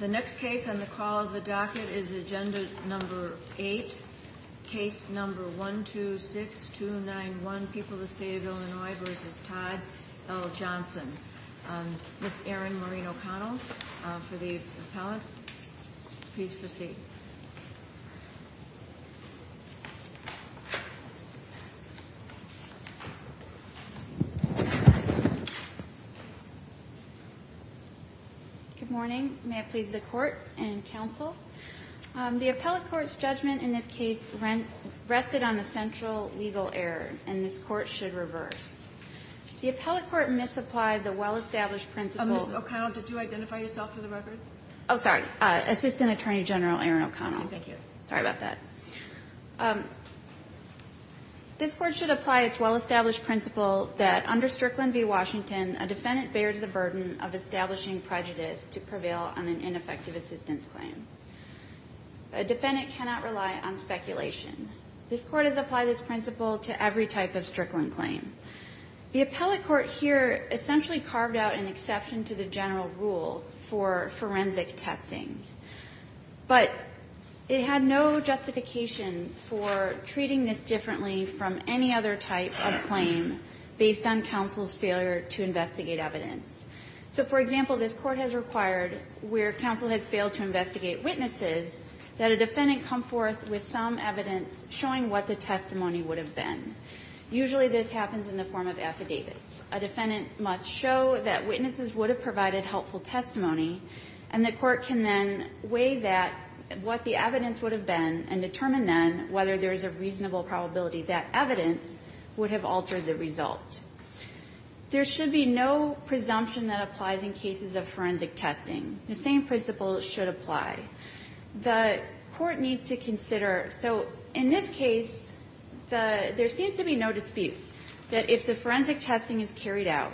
The next case on the call of the docket is Agenda No. 8, Case No. 126291, People of the State of Illinois v. Todd L. Johnson. Ms. Erin Maureen O'Connell for the appellate. Please proceed. Ms. O'Connell Good morning. May it please the Court and counsel. The appellate court's judgment in this case rested on a central legal error, and this Court should reverse. The appellate court misapplied the well-established principle Ms. O'Connell, did you identify yourself for the record? Ms. O'Connell Oh, sorry. Assistant Attorney General Erin O'Connell. Ms. O'Connell Thank you. Ms. O'Connell Sorry about that. This Court should apply its well-established principle that under Strickland v. Washington, a defendant bears the burden of establishing prejudice to prevail on an ineffective assistance claim. A defendant cannot rely on speculation. This Court has applied this principle to every type of Strickland claim. The appellate court here essentially carved out an exception to the general rule for forensic testing. But it had no justification for treating this differently from any other type of claim based on counsel's failure to investigate evidence. So, for example, this Court has required, where counsel has failed to investigate witnesses, that a defendant come forth with some evidence showing what the testimony would have been. Usually this happens in the form of affidavits. A defendant must show that witnesses would have provided helpful testimony, and the court can then weigh that, what the evidence would have been, and determine then whether there is a reasonable probability that evidence would have altered the result. There should be no presumption that applies in cases of forensic testing. The same principle should apply. The court needs to consider. So in this case, there seems to be no dispute that if the forensic testing is carried out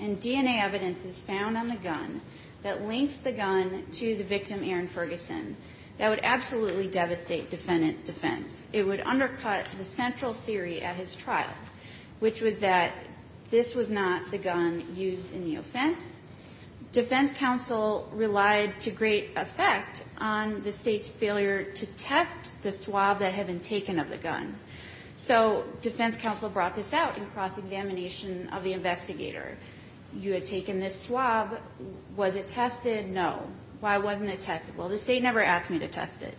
and DNA evidence is found on the gun that links the gun to the victim, Aaron Ferguson, that would absolutely devastate defendant's defense. It would undercut the central theory at his trial, which was that this was not the gun used in the offense. Defense counsel relied to great effect on the State's failure to test the swab that had been taken of the gun. So defense counsel brought this out in cross-examination of the investigator. You had taken this swab. Was it tested? No. Why wasn't it tested? Well, the State never asked me to test it.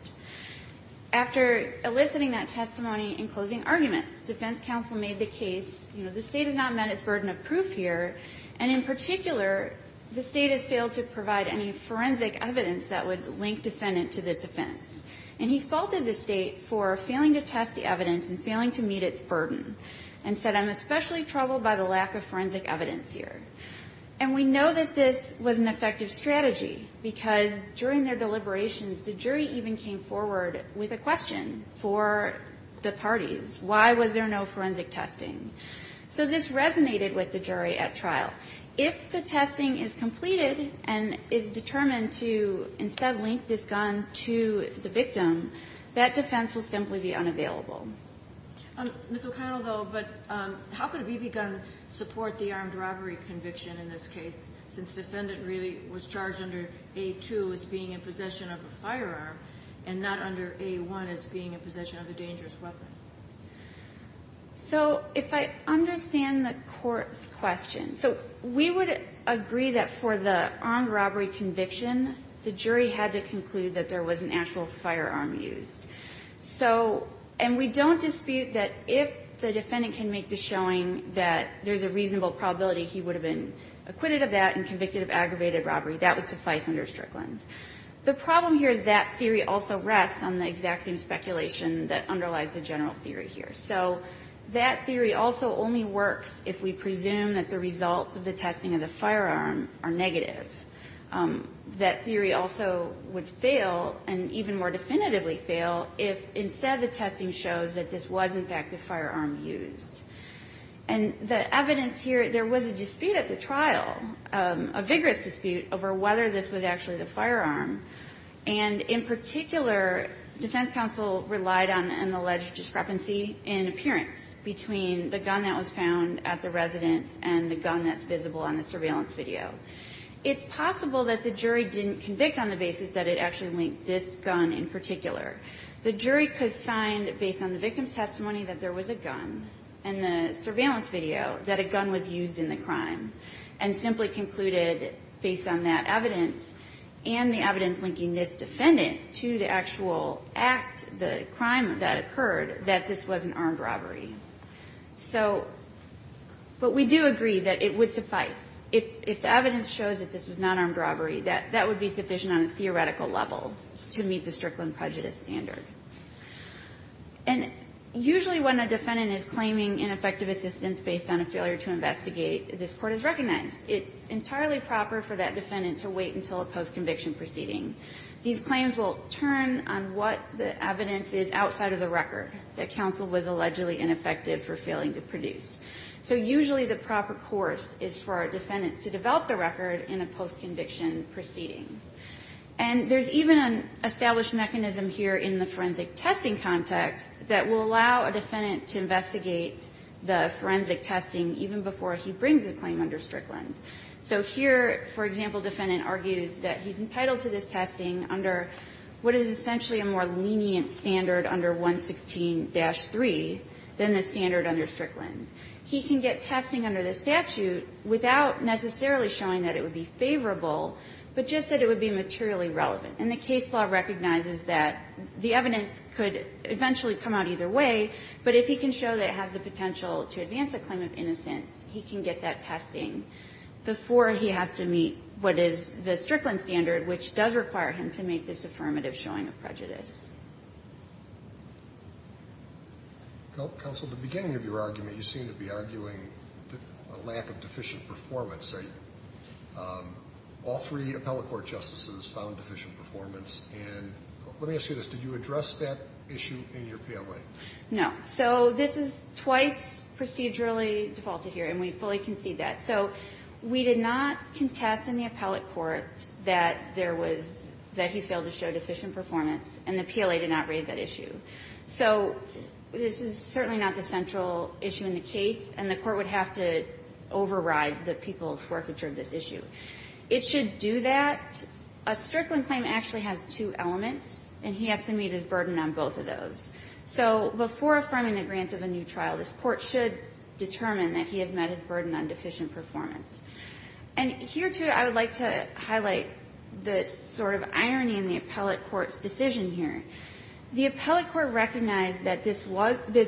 After eliciting that testimony in closing arguments, defense counsel made the case, you know, the State has not met its burden of proof here, and in particular, the State has failed to provide any forensic evidence that would link defendant to this offense. And he faulted the State for failing to test the evidence and failing to meet its burden and said, I'm especially troubled by the lack of forensic evidence here. And we know that this was an effective strategy, because during their deliberations, the jury even came forward with a question for the parties. Why was there no forensic testing? So this resonated with the jury at trial. If the testing is completed and is determined to instead link this gun to the victim, that defense will simply be unavailable. Ms. O'Connell, though, but how could a BB gun support the armed robbery conviction in this case, since defendant really was charged under A2 as being in possession of a firearm and not under A1 as being in possession of a dangerous weapon? So if I understand the Court's question. So we would agree that for the armed robbery conviction, the jury had to conclude that there was an actual firearm used. So, and we don't dispute that if the defendant can make the showing that there's a reasonable probability he would have been acquitted of that and convicted of aggravated robbery, that would suffice under Strickland. The problem here is that theory also rests on the exact same speculation that underlies the general theory here. So that theory also only works if we presume that the results of the testing of the firearm are negative. That theory also would fail and even more definitively fail if instead the testing shows that this was, in fact, the firearm used. And the evidence here, there was a dispute at the trial, a vigorous dispute over whether this was actually the firearm. And in particular, defense counsel relied on an alleged discrepancy in appearance between the gun that was found at the residence and the gun that's visible on the surveillance video. It's possible that the jury didn't convict on the basis that it actually linked this gun in particular. The jury could find, based on the victim's testimony, that there was a gun in the surveillance video, that a gun was used in the crime, and simply concluded, based on that evidence and the evidence linking this defendant to the actual act, the crime that occurred, that this was an armed robbery. So, but we do agree that it would suffice. If the evidence shows that this was not armed robbery, that would be sufficient on a theoretical level to meet the Strickland prejudice standard. And usually when a defendant is claiming ineffective assistance based on a failure to investigate, this Court has recognized. It's entirely proper for that defendant to wait until a postconviction proceeding. These claims will turn on what the evidence is outside of the record that counsel was allegedly ineffective for failing to produce. So usually the proper course is for a defendant to develop the record in a postconviction proceeding. And there's even an established mechanism here in the forensic testing context that will allow a defendant to investigate the forensic testing even before he brings a claim under Strickland. So here, for example, defendant argues that he's entitled to this testing under what is essentially a more lenient standard under 116-3 than the standard under Strickland. He can get testing under the statute without necessarily showing that it would be favorable, but just that it would be materially relevant. And the case law recognizes that the evidence could eventually come out either way, but if he can show that it has the potential to advance a claim of innocence, he can get that testing before he has to meet what is the Strickland standard, which does require him to make this affirmative showing of prejudice. Counsel, at the beginning of your argument, you seemed to be arguing a lack of deficient performance. All three appellate court justices found deficient performance. And let me ask you this. Did you address that issue in your PLA? No. So this is twice procedurally defaulted here, and we fully concede that. So we did not contest in the appellate court that there was that he failed to show that the PLA did not raise that issue. So this is certainly not the central issue in the case, and the Court would have to override the people's forfeiture of this issue. It should do that. A Strickland claim actually has two elements, and he has to meet his burden on both of those. So before affirming the grant of a new trial, this Court should determine that he has met his burden on deficient performance. And here, too, I would like to highlight the sort of irony in the appellate court's decision here. The appellate court recognized that this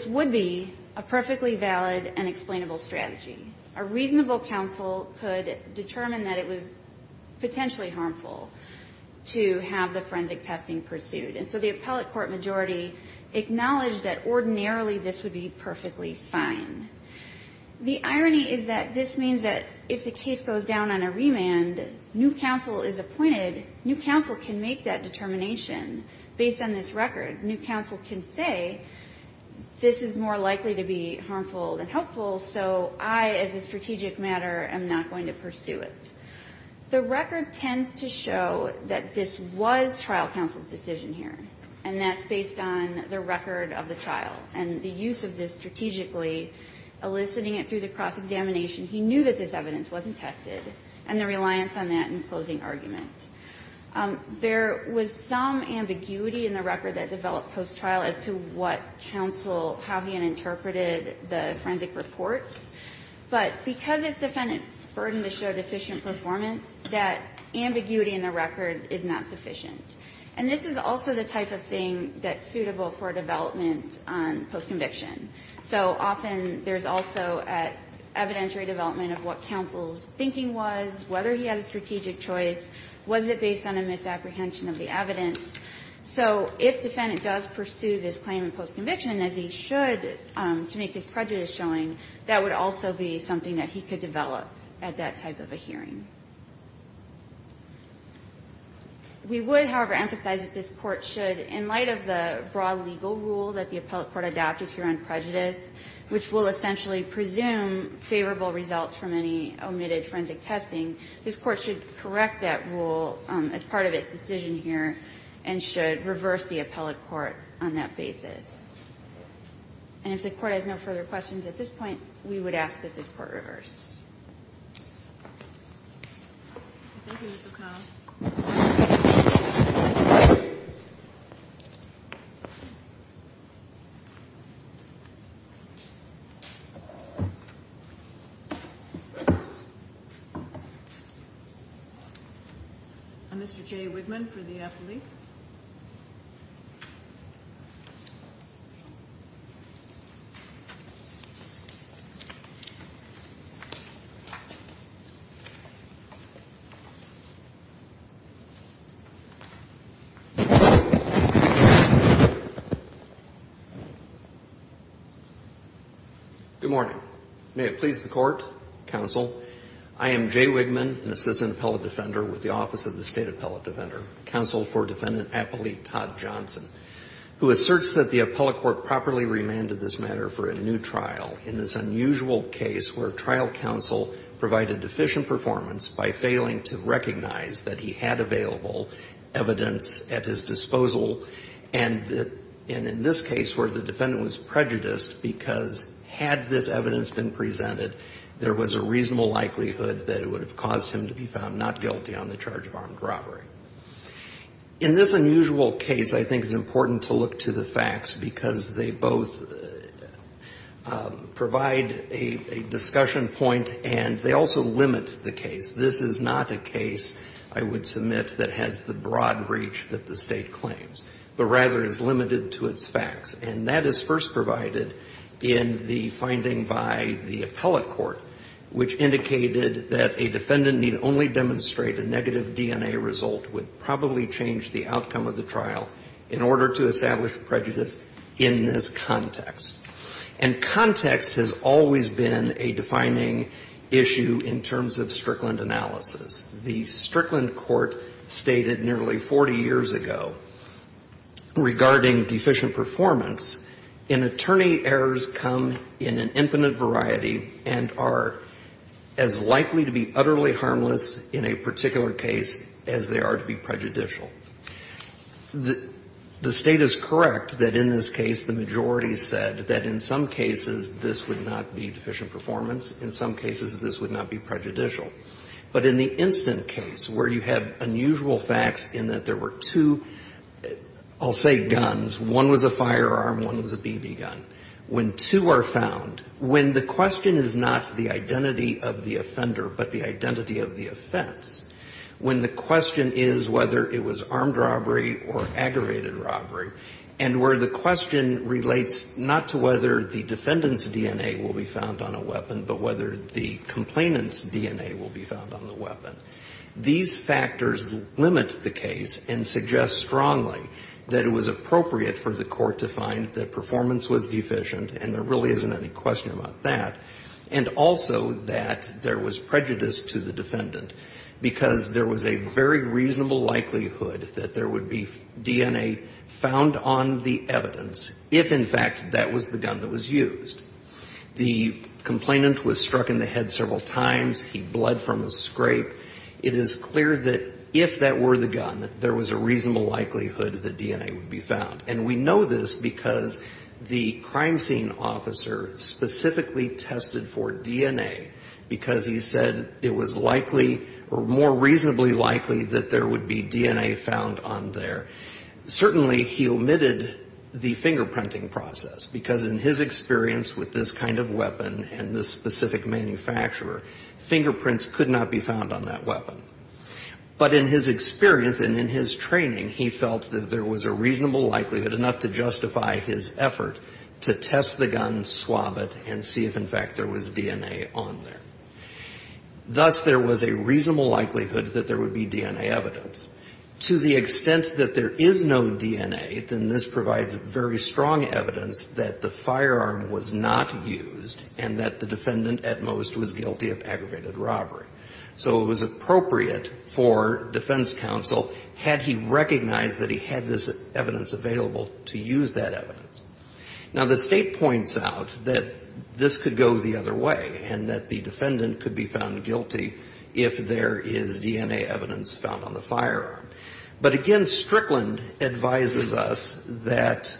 would be a perfectly valid and explainable strategy. A reasonable counsel could determine that it was potentially harmful to have the forensic testing pursued. And so the appellate court majority acknowledged that ordinarily this would be perfectly fine. The irony is that this means that if the case goes down on a remand, new counsel is appointed, new counsel can make that determination based on this record. New counsel can say, this is more likely to be harmful than helpful, so I, as a strategic matter, am not going to pursue it. The record tends to show that this was trial counsel's decision here, and that's based on the record of the trial and the use of this strategically, eliciting it through the cross-examination. He knew that this evidence wasn't tested, and the reliance on that in closing argument. There was some ambiguity in the record that developed post-trial as to what counsel how he had interpreted the forensic reports. But because it's defendant's burden to show deficient performance, that ambiguity in the record is not sufficient. And this is also the type of thing that's suitable for development on post-conviction. So often, there's also evidentiary development of what counsel's thinking was, whether he had a strategic choice, was it based on a misapprehension of the evidence. So if defendant does pursue this claim in post-conviction, as he should to make his prejudice showing, that would also be something that he could develop at that type of a hearing. We would, however, emphasize that this Court should, in light of the broad legal rule that the appellate court adopted here on prejudice, which will essentially presume favorable results from any omitted forensic testing, this Court should correct that rule as part of its decision here and should reverse the appellate court on that basis. And if the Court has no further questions at this point, we would ask that this Court reverse. Thank you, Ms. O'Connell. And Mr. Jay Wigman for the appellate. Good morning. May it please the Court, counsel. I am Jay Wigman, an assistant appellate defender with the Office of the State Appellate Defender, counsel for Defendant Appellate Todd Johnson, who asserts that the appellate court properly remanded this matter for a new trial in this unusual case where trial counsel provided deficient performance by failing to recognize that he had available evidence at his disposal. And in this case where the defendant was prejudiced because had this evidence been presented, there was a reasonable likelihood that it would have caused him to be found not guilty on the charge of armed robbery. In this unusual case, I think it's important to look to the facts because they both provide a discussion point and they also limit the case. This is not a case, I would submit, that has the broad reach that the State claims, but rather is limited to its facts. And that is first provided in the finding by the appellate court, which indicated that a defendant need only demonstrate a negative DNA result would probably change the outcome of the trial in order to establish prejudice in this context. And context has always been a defining issue in terms of Strickland analysis. The Strickland court stated nearly 40 years ago regarding deficient performance in attorney errors come in an infinite variety and are as likely to be utterly harmless in a particular case as they are to be prejudicial. The State is correct that in this case the majority said that in some cases this would not be deficient performance, in some cases this would not be prejudicial. But in the instant case where you have unusual facts in that there were two, I'll say guns, one was a firearm, one was a BB gun, when two are found, when the question is not the identity of the offender but the identity of the offense, when the question is whether it was armed robbery or aggravated robbery, and where the question relates not to whether the defendant's DNA will be found on a weapon but whether the complainant's DNA will be found on the weapon, these factors limit the case and suggest strongly that it was appropriate for the court to find that performance was deficient, and there really isn't any question about that, and also that there was prejudice to the defendant because there was a very reasonable likelihood that there would be DNA found on the evidence if, in fact, that was the gun that was used. The complainant was struck in the head several times. He bled from a scrape. It is clear that if that were the gun, there was a reasonable likelihood that DNA would be found. And we know this because the crime scene officer specifically tested for DNA because he said it was likely or more reasonably likely that there would be DNA found on there. Certainly, he omitted the fingerprinting process because in his experience with this kind of weapon and this specific manufacturer, fingerprints could not be found on that weapon. But in his experience and in his training, he felt that there was a reasonable likelihood, enough to justify his effort, to test the gun, swab it, and see if, in fact, there was DNA on there. Thus, there was a reasonable likelihood that there would be DNA evidence. To the extent that there is no DNA, then this provides very strong evidence that the firearm was not used and that the defendant at most was guilty of aggravated robbery. So it was appropriate for defense counsel, had he recognized that he had this evidence available, to use that evidence. Now, the State points out that this could go the other way and that the defendant could be found guilty if there is DNA evidence found on the firearm. But, again, Strickland advises us that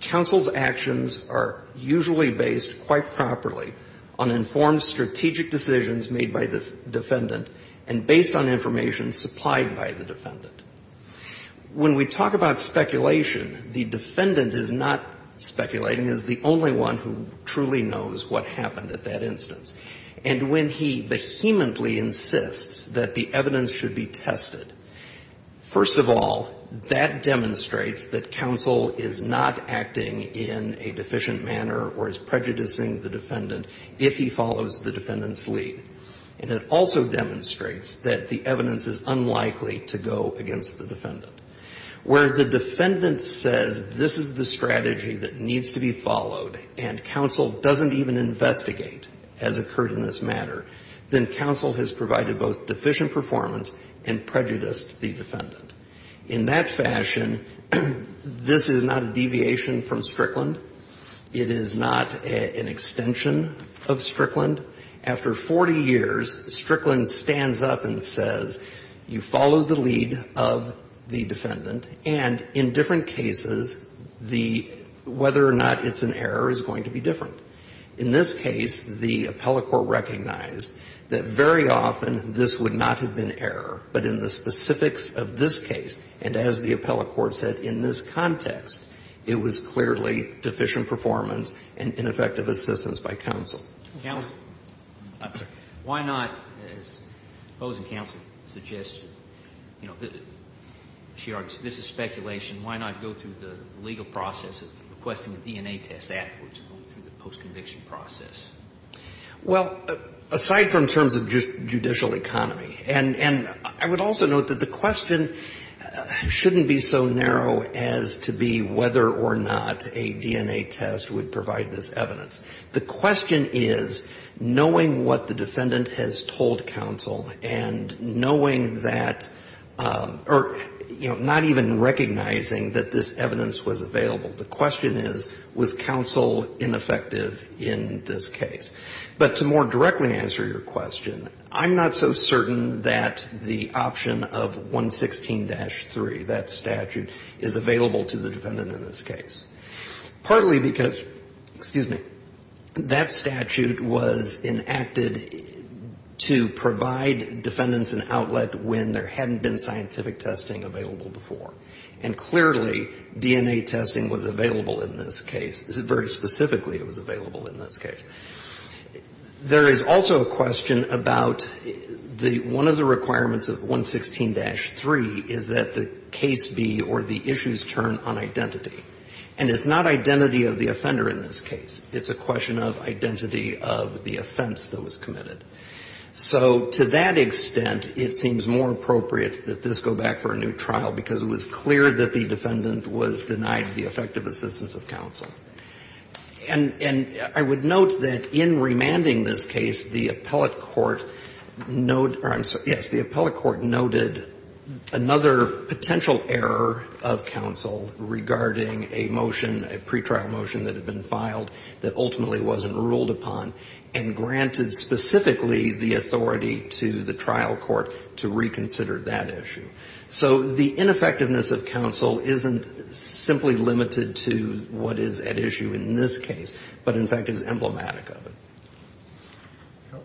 counsel's actions are usually based quite properly on informed strategic decisions made by the defendant and based on information supplied by the defendant. When we talk about speculation, the defendant is not speculating, is the only one who truly knows what happened at that instance. And when he vehemently insists that the evidence should be tested, first of all, that demonstrates that counsel is not acting in a deficient manner or is prejudicing the defendant if he follows the defendant's lead. And it also demonstrates that the evidence is unlikely to go against the defendant. Where the defendant says this is the strategy that needs to be followed and counsel doesn't even investigate, as occurred in this matter, then counsel has provided both deficient performance and prejudiced the defendant. In that fashion, this is not a deviation from Strickland. It is not an extension of Strickland. After 40 years, Strickland stands up and says, you followed the lead of the defendant, and in different cases, the whether or not it's an error is going to be different. In this case, the appellate court recognized that very often this would not have been error, but in the specifics of this case, and as the appellate court said in this I'm sorry. Why not, as the opposing counsel suggested, you know, she argues this is speculation. Why not go through the legal process of requesting a DNA test afterwards and go through the postconviction process? Well, aside from terms of judicial economy, and I would also note that the question shouldn't be so narrow as to be whether or not a DNA test would provide this evidence. The question is, knowing what the defendant has told counsel and knowing that or, you know, not even recognizing that this evidence was available, the question is, was counsel ineffective in this case? But to more directly answer your question, I'm not so certain that the option of 116-3, that statute, is available to the defendant in this case. Partly because, excuse me, that statute was enacted to provide defendants an outlet when there hadn't been scientific testing available before. And clearly, DNA testing was available in this case. Very specifically, it was available in this case. There is also a question about the one of the requirements of 116-3 is that the case be or the issues turn on identity. And it's not identity of the offender in this case. It's a question of identity of the offense that was committed. So to that extent, it seems more appropriate that this go back for a new trial, because it was clear that the defendant was denied the effective assistance of counsel. And I would note that in remanding this case, the appellate court noted or I'm sorry, the error of counsel regarding a motion, a pretrial motion that had been filed that ultimately wasn't ruled upon and granted specifically the authority to the trial court to reconsider that issue. So the ineffectiveness of counsel isn't simply limited to what is at issue in this case, but in fact is emblematic of it.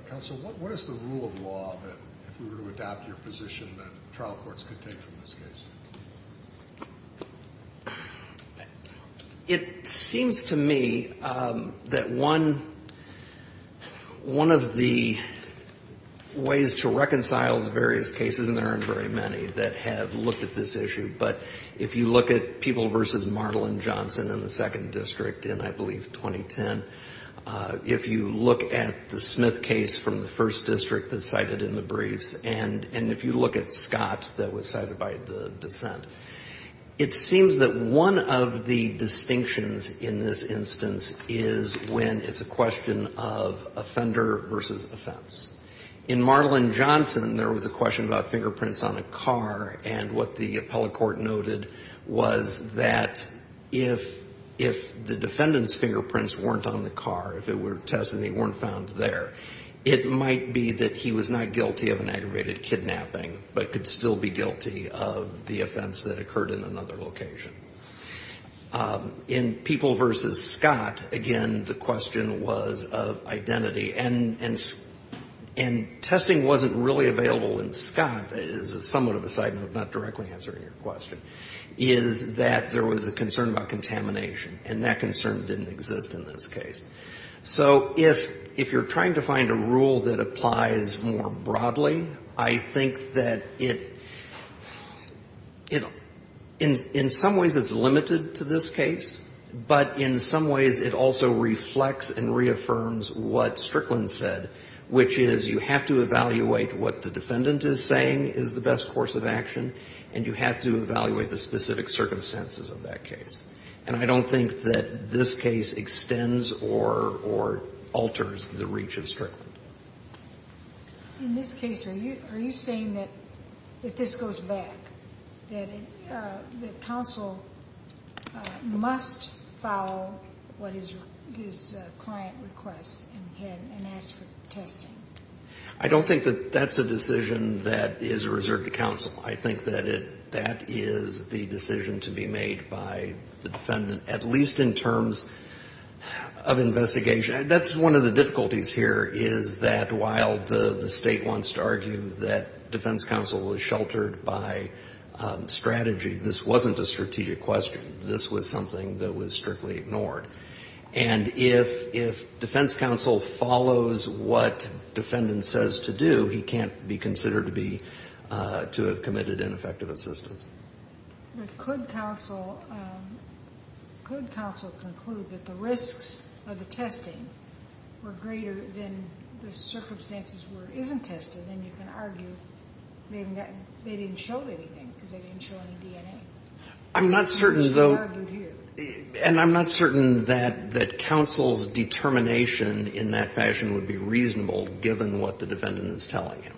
Counsel, what is the rule of law that, if we were to adopt your position, that trial courts could take from this case? It seems to me that one of the ways to reconcile the various cases, and there aren't very many, that have looked at this issue. But if you look at Peeble v. Mardlin-Johnson in the second district in, I believe, 2010, if you look at the Smith case from the first district that's cited in the briefs, and if you look at Scott that was cited by the dissent, it seems that one of the distinctions in this instance is when it's a question of offender versus offense. In Mardlin-Johnson, there was a question about fingerprints on a car, and what the appellate court noted was that if the defendant's fingerprints weren't on the car, if they were tested and they weren't found there, it might be that he was not guilty of an aggravated kidnapping, but could still be guilty of the offense that occurred in another location. In Peeble v. Scott, again, the question was of identity. And testing wasn't really available in Scott, is somewhat of a side note, not directly answering your question, is that there was a concern about contamination, and that concern didn't exist in this case. So if you're trying to find a rule that applies more broadly, I think that in some ways it's limited to this case, but in some ways it also reflects and reaffirms what Strickland said, which is you have to evaluate what the defendant is saying is the best course of action, and you have to evaluate the specific circumstances of that case. And I don't think that this case extends or alters the reach of Strickland. In this case, are you saying that if this goes back, that counsel must follow what his client requests and ask for testing? I don't think that that's a decision that is reserved to counsel. I think that that is the decision to be made by the defendant, at least in terms of investigation. That's one of the difficulties here, is that while the State wants to argue that defense counsel was sheltered by strategy, this wasn't a strategic question. This was something that was strictly ignored. And if defense counsel follows what defendant says to do, he can't be considered to have committed ineffective assistance. But could counsel conclude that the risks of the testing were greater than the circumstances where it isn't tested? And you can argue they didn't show anything because they didn't show any DNA. I'm not certain, though, and I'm not certain that counsel's determination in that fashion would be reasonable, given what the defendant is telling him.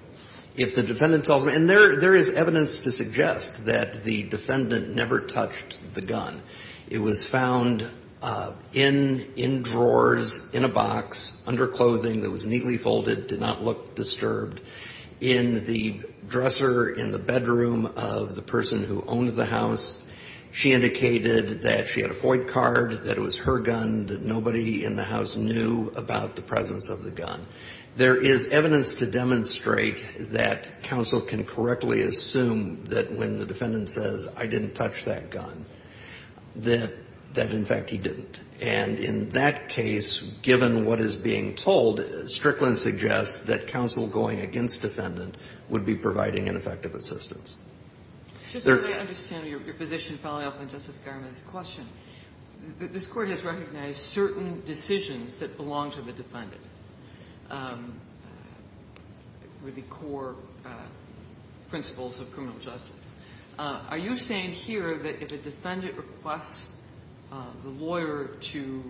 If the defendant tells me, and there is evidence to suggest that the defendant never touched the gun. It was found in drawers, in a box, under clothing that was neatly folded, did not look disturbed, in the dresser in the bedroom of the person who owned the house. She indicated that she had a FOID card, that it was her gun, that nobody in the house knew about the presence of the gun. There is evidence to demonstrate that counsel can correctly assume that when the defendant says, I didn't touch that gun, that in fact he didn't. And in that case, given what is being told, Strickland suggests that counsel going against defendant would be providing ineffective assistance. Just so I understand your position following up on Justice Garma's question, this Court has recognized certain decisions that belong to the defendant, the core principles of criminal justice. Are you saying here that if a defendant requests the lawyer to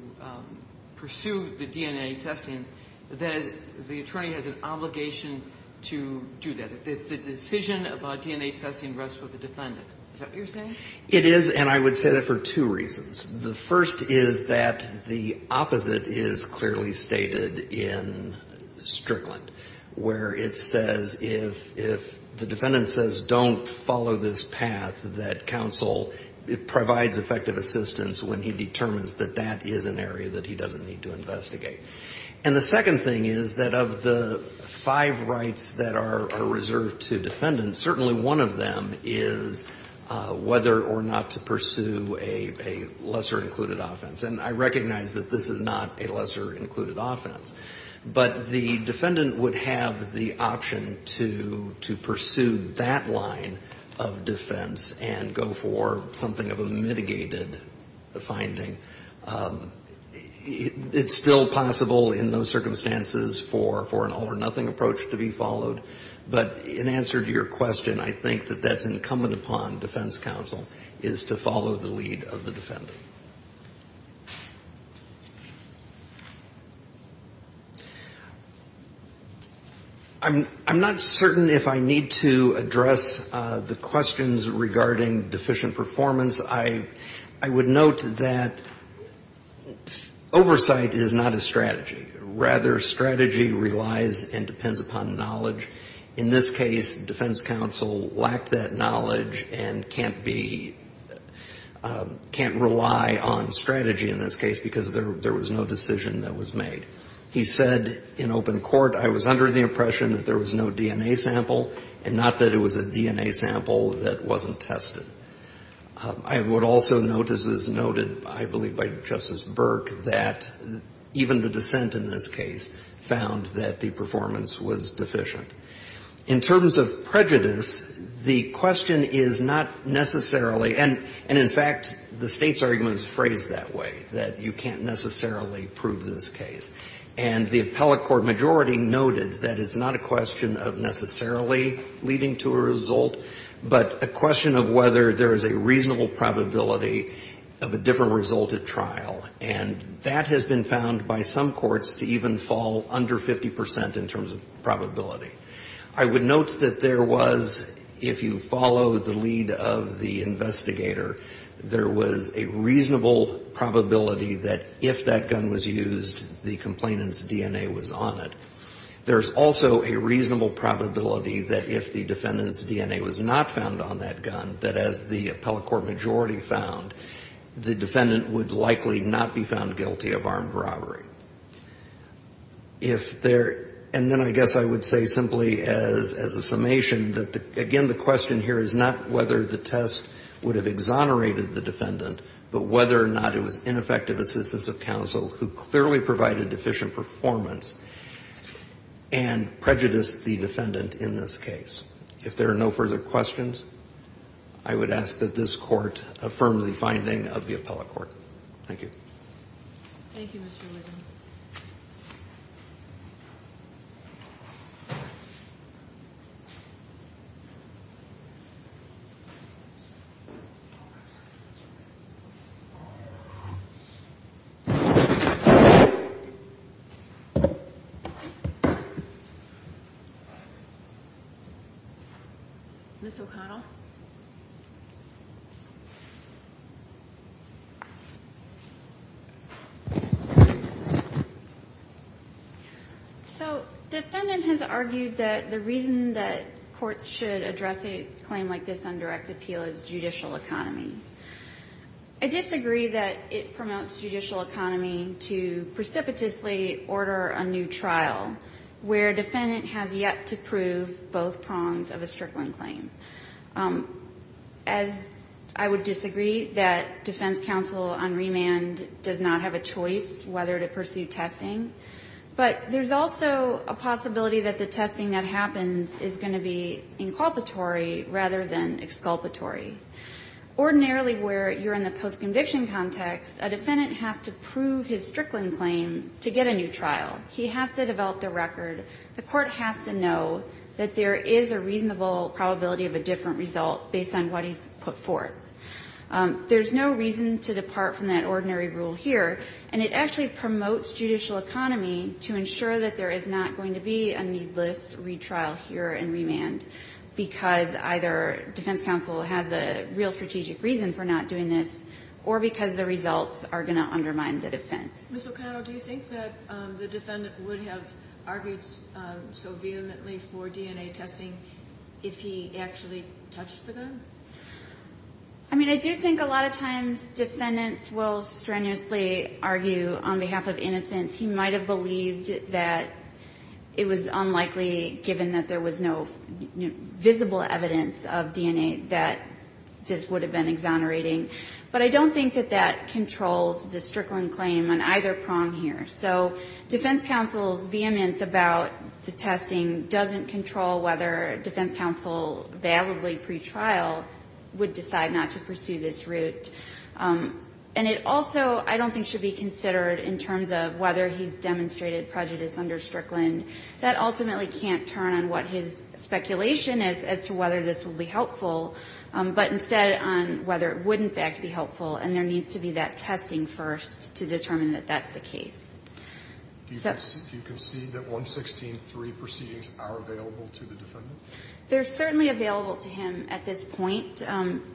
pursue the DNA testing, that the attorney has an obligation to do that? That the decision about DNA testing rests with the defendant? Is that what you're saying? It is, and I would say that for two reasons. The first is that the opposite is clearly stated in Strickland, where it says if the defendant says, don't follow this path, that counsel provides effective assistance when he determines that that is an area that he doesn't need to investigate. And the second thing is that of the five rights that are reserved to defendants, certainly one of them is whether or not to pursue a lesser included offense. And I recognize that this is not a lesser included offense. But the defendant would have the option to pursue that line of defense and go for something of a mitigated finding. It's still possible in those circumstances for an all-or-nothing approach to be followed. But in answer to your question, I think that that's incumbent upon defense counsel is to follow the lead of the defendant. I'm not certain if I need to address the questions regarding deficient performance. I would note that oversight is not a strategy. Rather, strategy relies and depends upon knowledge. In this case, defense counsel lacked that knowledge and can't be, can't rely on strategy in this case because there was no decision that was made. He said in open court, I was under the impression that there was no DNA sample, and not that it was a DNA sample that wasn't tested. I would also note, as is noted, I believe, by Justice Burke, that even the dissent in this case found that the performance was deficient. In terms of prejudice, the question is not necessarily, and in fact, the State's argument is phrased that way, that you can't necessarily prove this case. And the appellate court majority noted that it's not a question of necessarily leading to a result, but a question of whether there is a reasonable probability of a different result at trial. And that has been found by some courts to even fall under 50% in terms of probability. I would note that there was, if you follow the lead of the investigator, there was a reasonable probability that if that gun was used, the complainant's DNA was on it. There's also a reasonable probability that if the defendant's DNA was not found on that gun, that as the appellate court majority found, the defendant would likely not be found guilty of armed robbery. If there, and then I guess I would say simply as a summation that, again, the question here is not whether the test would have exonerated the defendant, but whether or not it was ineffective assistance of counsel who clearly provided deficient performance and prejudiced the defendant in this case. If there are no further questions, I would ask that this court affirm the finding of the appellate court. Thank you. Thank you, Mr. Liddell. Ms. O'Connell. So defendant has argued that the reason that courts should address a claim like this on direct appeal is judicial economy. I disagree that it promotes judicial economy to precipitously order a new trial, where defendant has yet to prove both prongs of a Strickland claim. As I would disagree that defense counsel on remand does not have a choice whether to pursue testing. But there's also a possibility that the testing that happens is going to be inculpatory rather than exculpatory. Ordinarily where you're in the post-conviction context, a defendant has to prove his Strickland claim to get a new trial. He has to develop the record. The court has to know that there is a reasonable probability of a different result based on what he's put forth. There's no reason to depart from that ordinary rule here, and it actually promotes judicial economy to ensure that there is not going to be a needless retrial here in remand, because either defense counsel has a real strategic reason for not doing this, or because the results are going to undermine the defense. Ms. O'Connell, do you think that the defendant would have argued so vehemently for DNA testing if he actually touched the gun? I mean, I do think a lot of times defendants will strenuously argue on behalf of innocence. He might have believed that it was unlikely, given that there was no visible evidence of DNA, that this would have been exonerating. But I don't think that that controls the Strickland claim on either prong here. So defense counsel's vehemence about the testing doesn't control whether defense counsel validly pretrial would decide not to pursue this route. And it also I don't think should be considered in terms of whether he's demonstrated prejudice under Strickland. That ultimately can't turn on what his speculation is as to whether this will be helpful, but instead on whether it would, in fact, be helpful. And there needs to be that testing first to determine that that's the case. Do you concede that 116.3 proceedings are available to the defendant? They're certainly available to him at this point.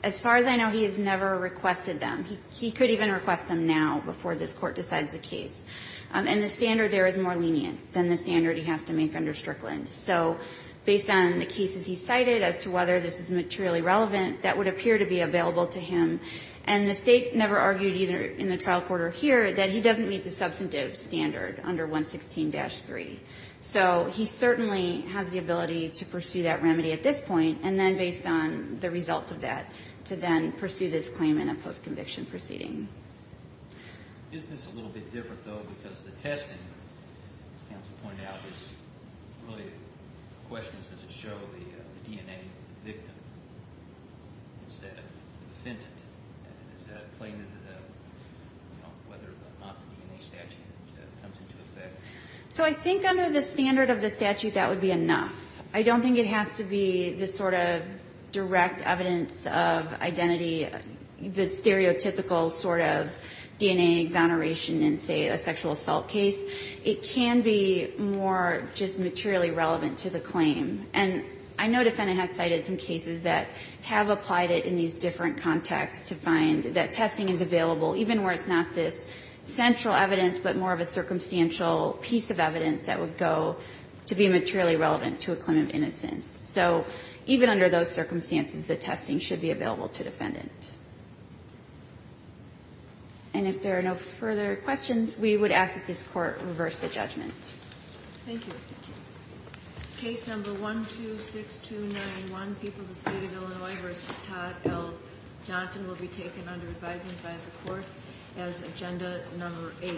As far as I know, he has never requested them. He could even request them now before this Court decides the case. And the standard there is more lenient than the standard he has to make under Strickland. So based on the cases he cited as to whether this is materially relevant, that would appear to be available to him. And the State never argued either in the trial court or here that he doesn't meet the substantive standard under 116-3. So he certainly has the ability to pursue that remedy at this point, and then based on the results of that, to then pursue this claim in a post-conviction proceeding. Is this a little bit different, though, because the testing, as counsel pointed out, is really the question is does it show the DNA of the victim instead of the defendant? Is that playing into the, you know, whether or not the DNA statute comes into effect? So I think under the standard of the statute, that would be enough. I don't think it has to be the sort of direct evidence of identity, the stereotypical sort of DNA exoneration in, say, a sexual assault case. It can be more just materially relevant to the claim. And I know the defendant has cited some cases that have applied it in these different contexts to find that testing is available even where it's not this central evidence but more of a circumstantial piece of evidence that would go to be materially relevant to a claim of innocence. So even under those circumstances, the testing should be available to defendant. And if there are no further questions, we would ask that this Court reverse the judgment. Thank you. Case number 126291, people of the State of Illinois v. Todd L. Johnson, will be taken under advisement by the Court as agenda number 8.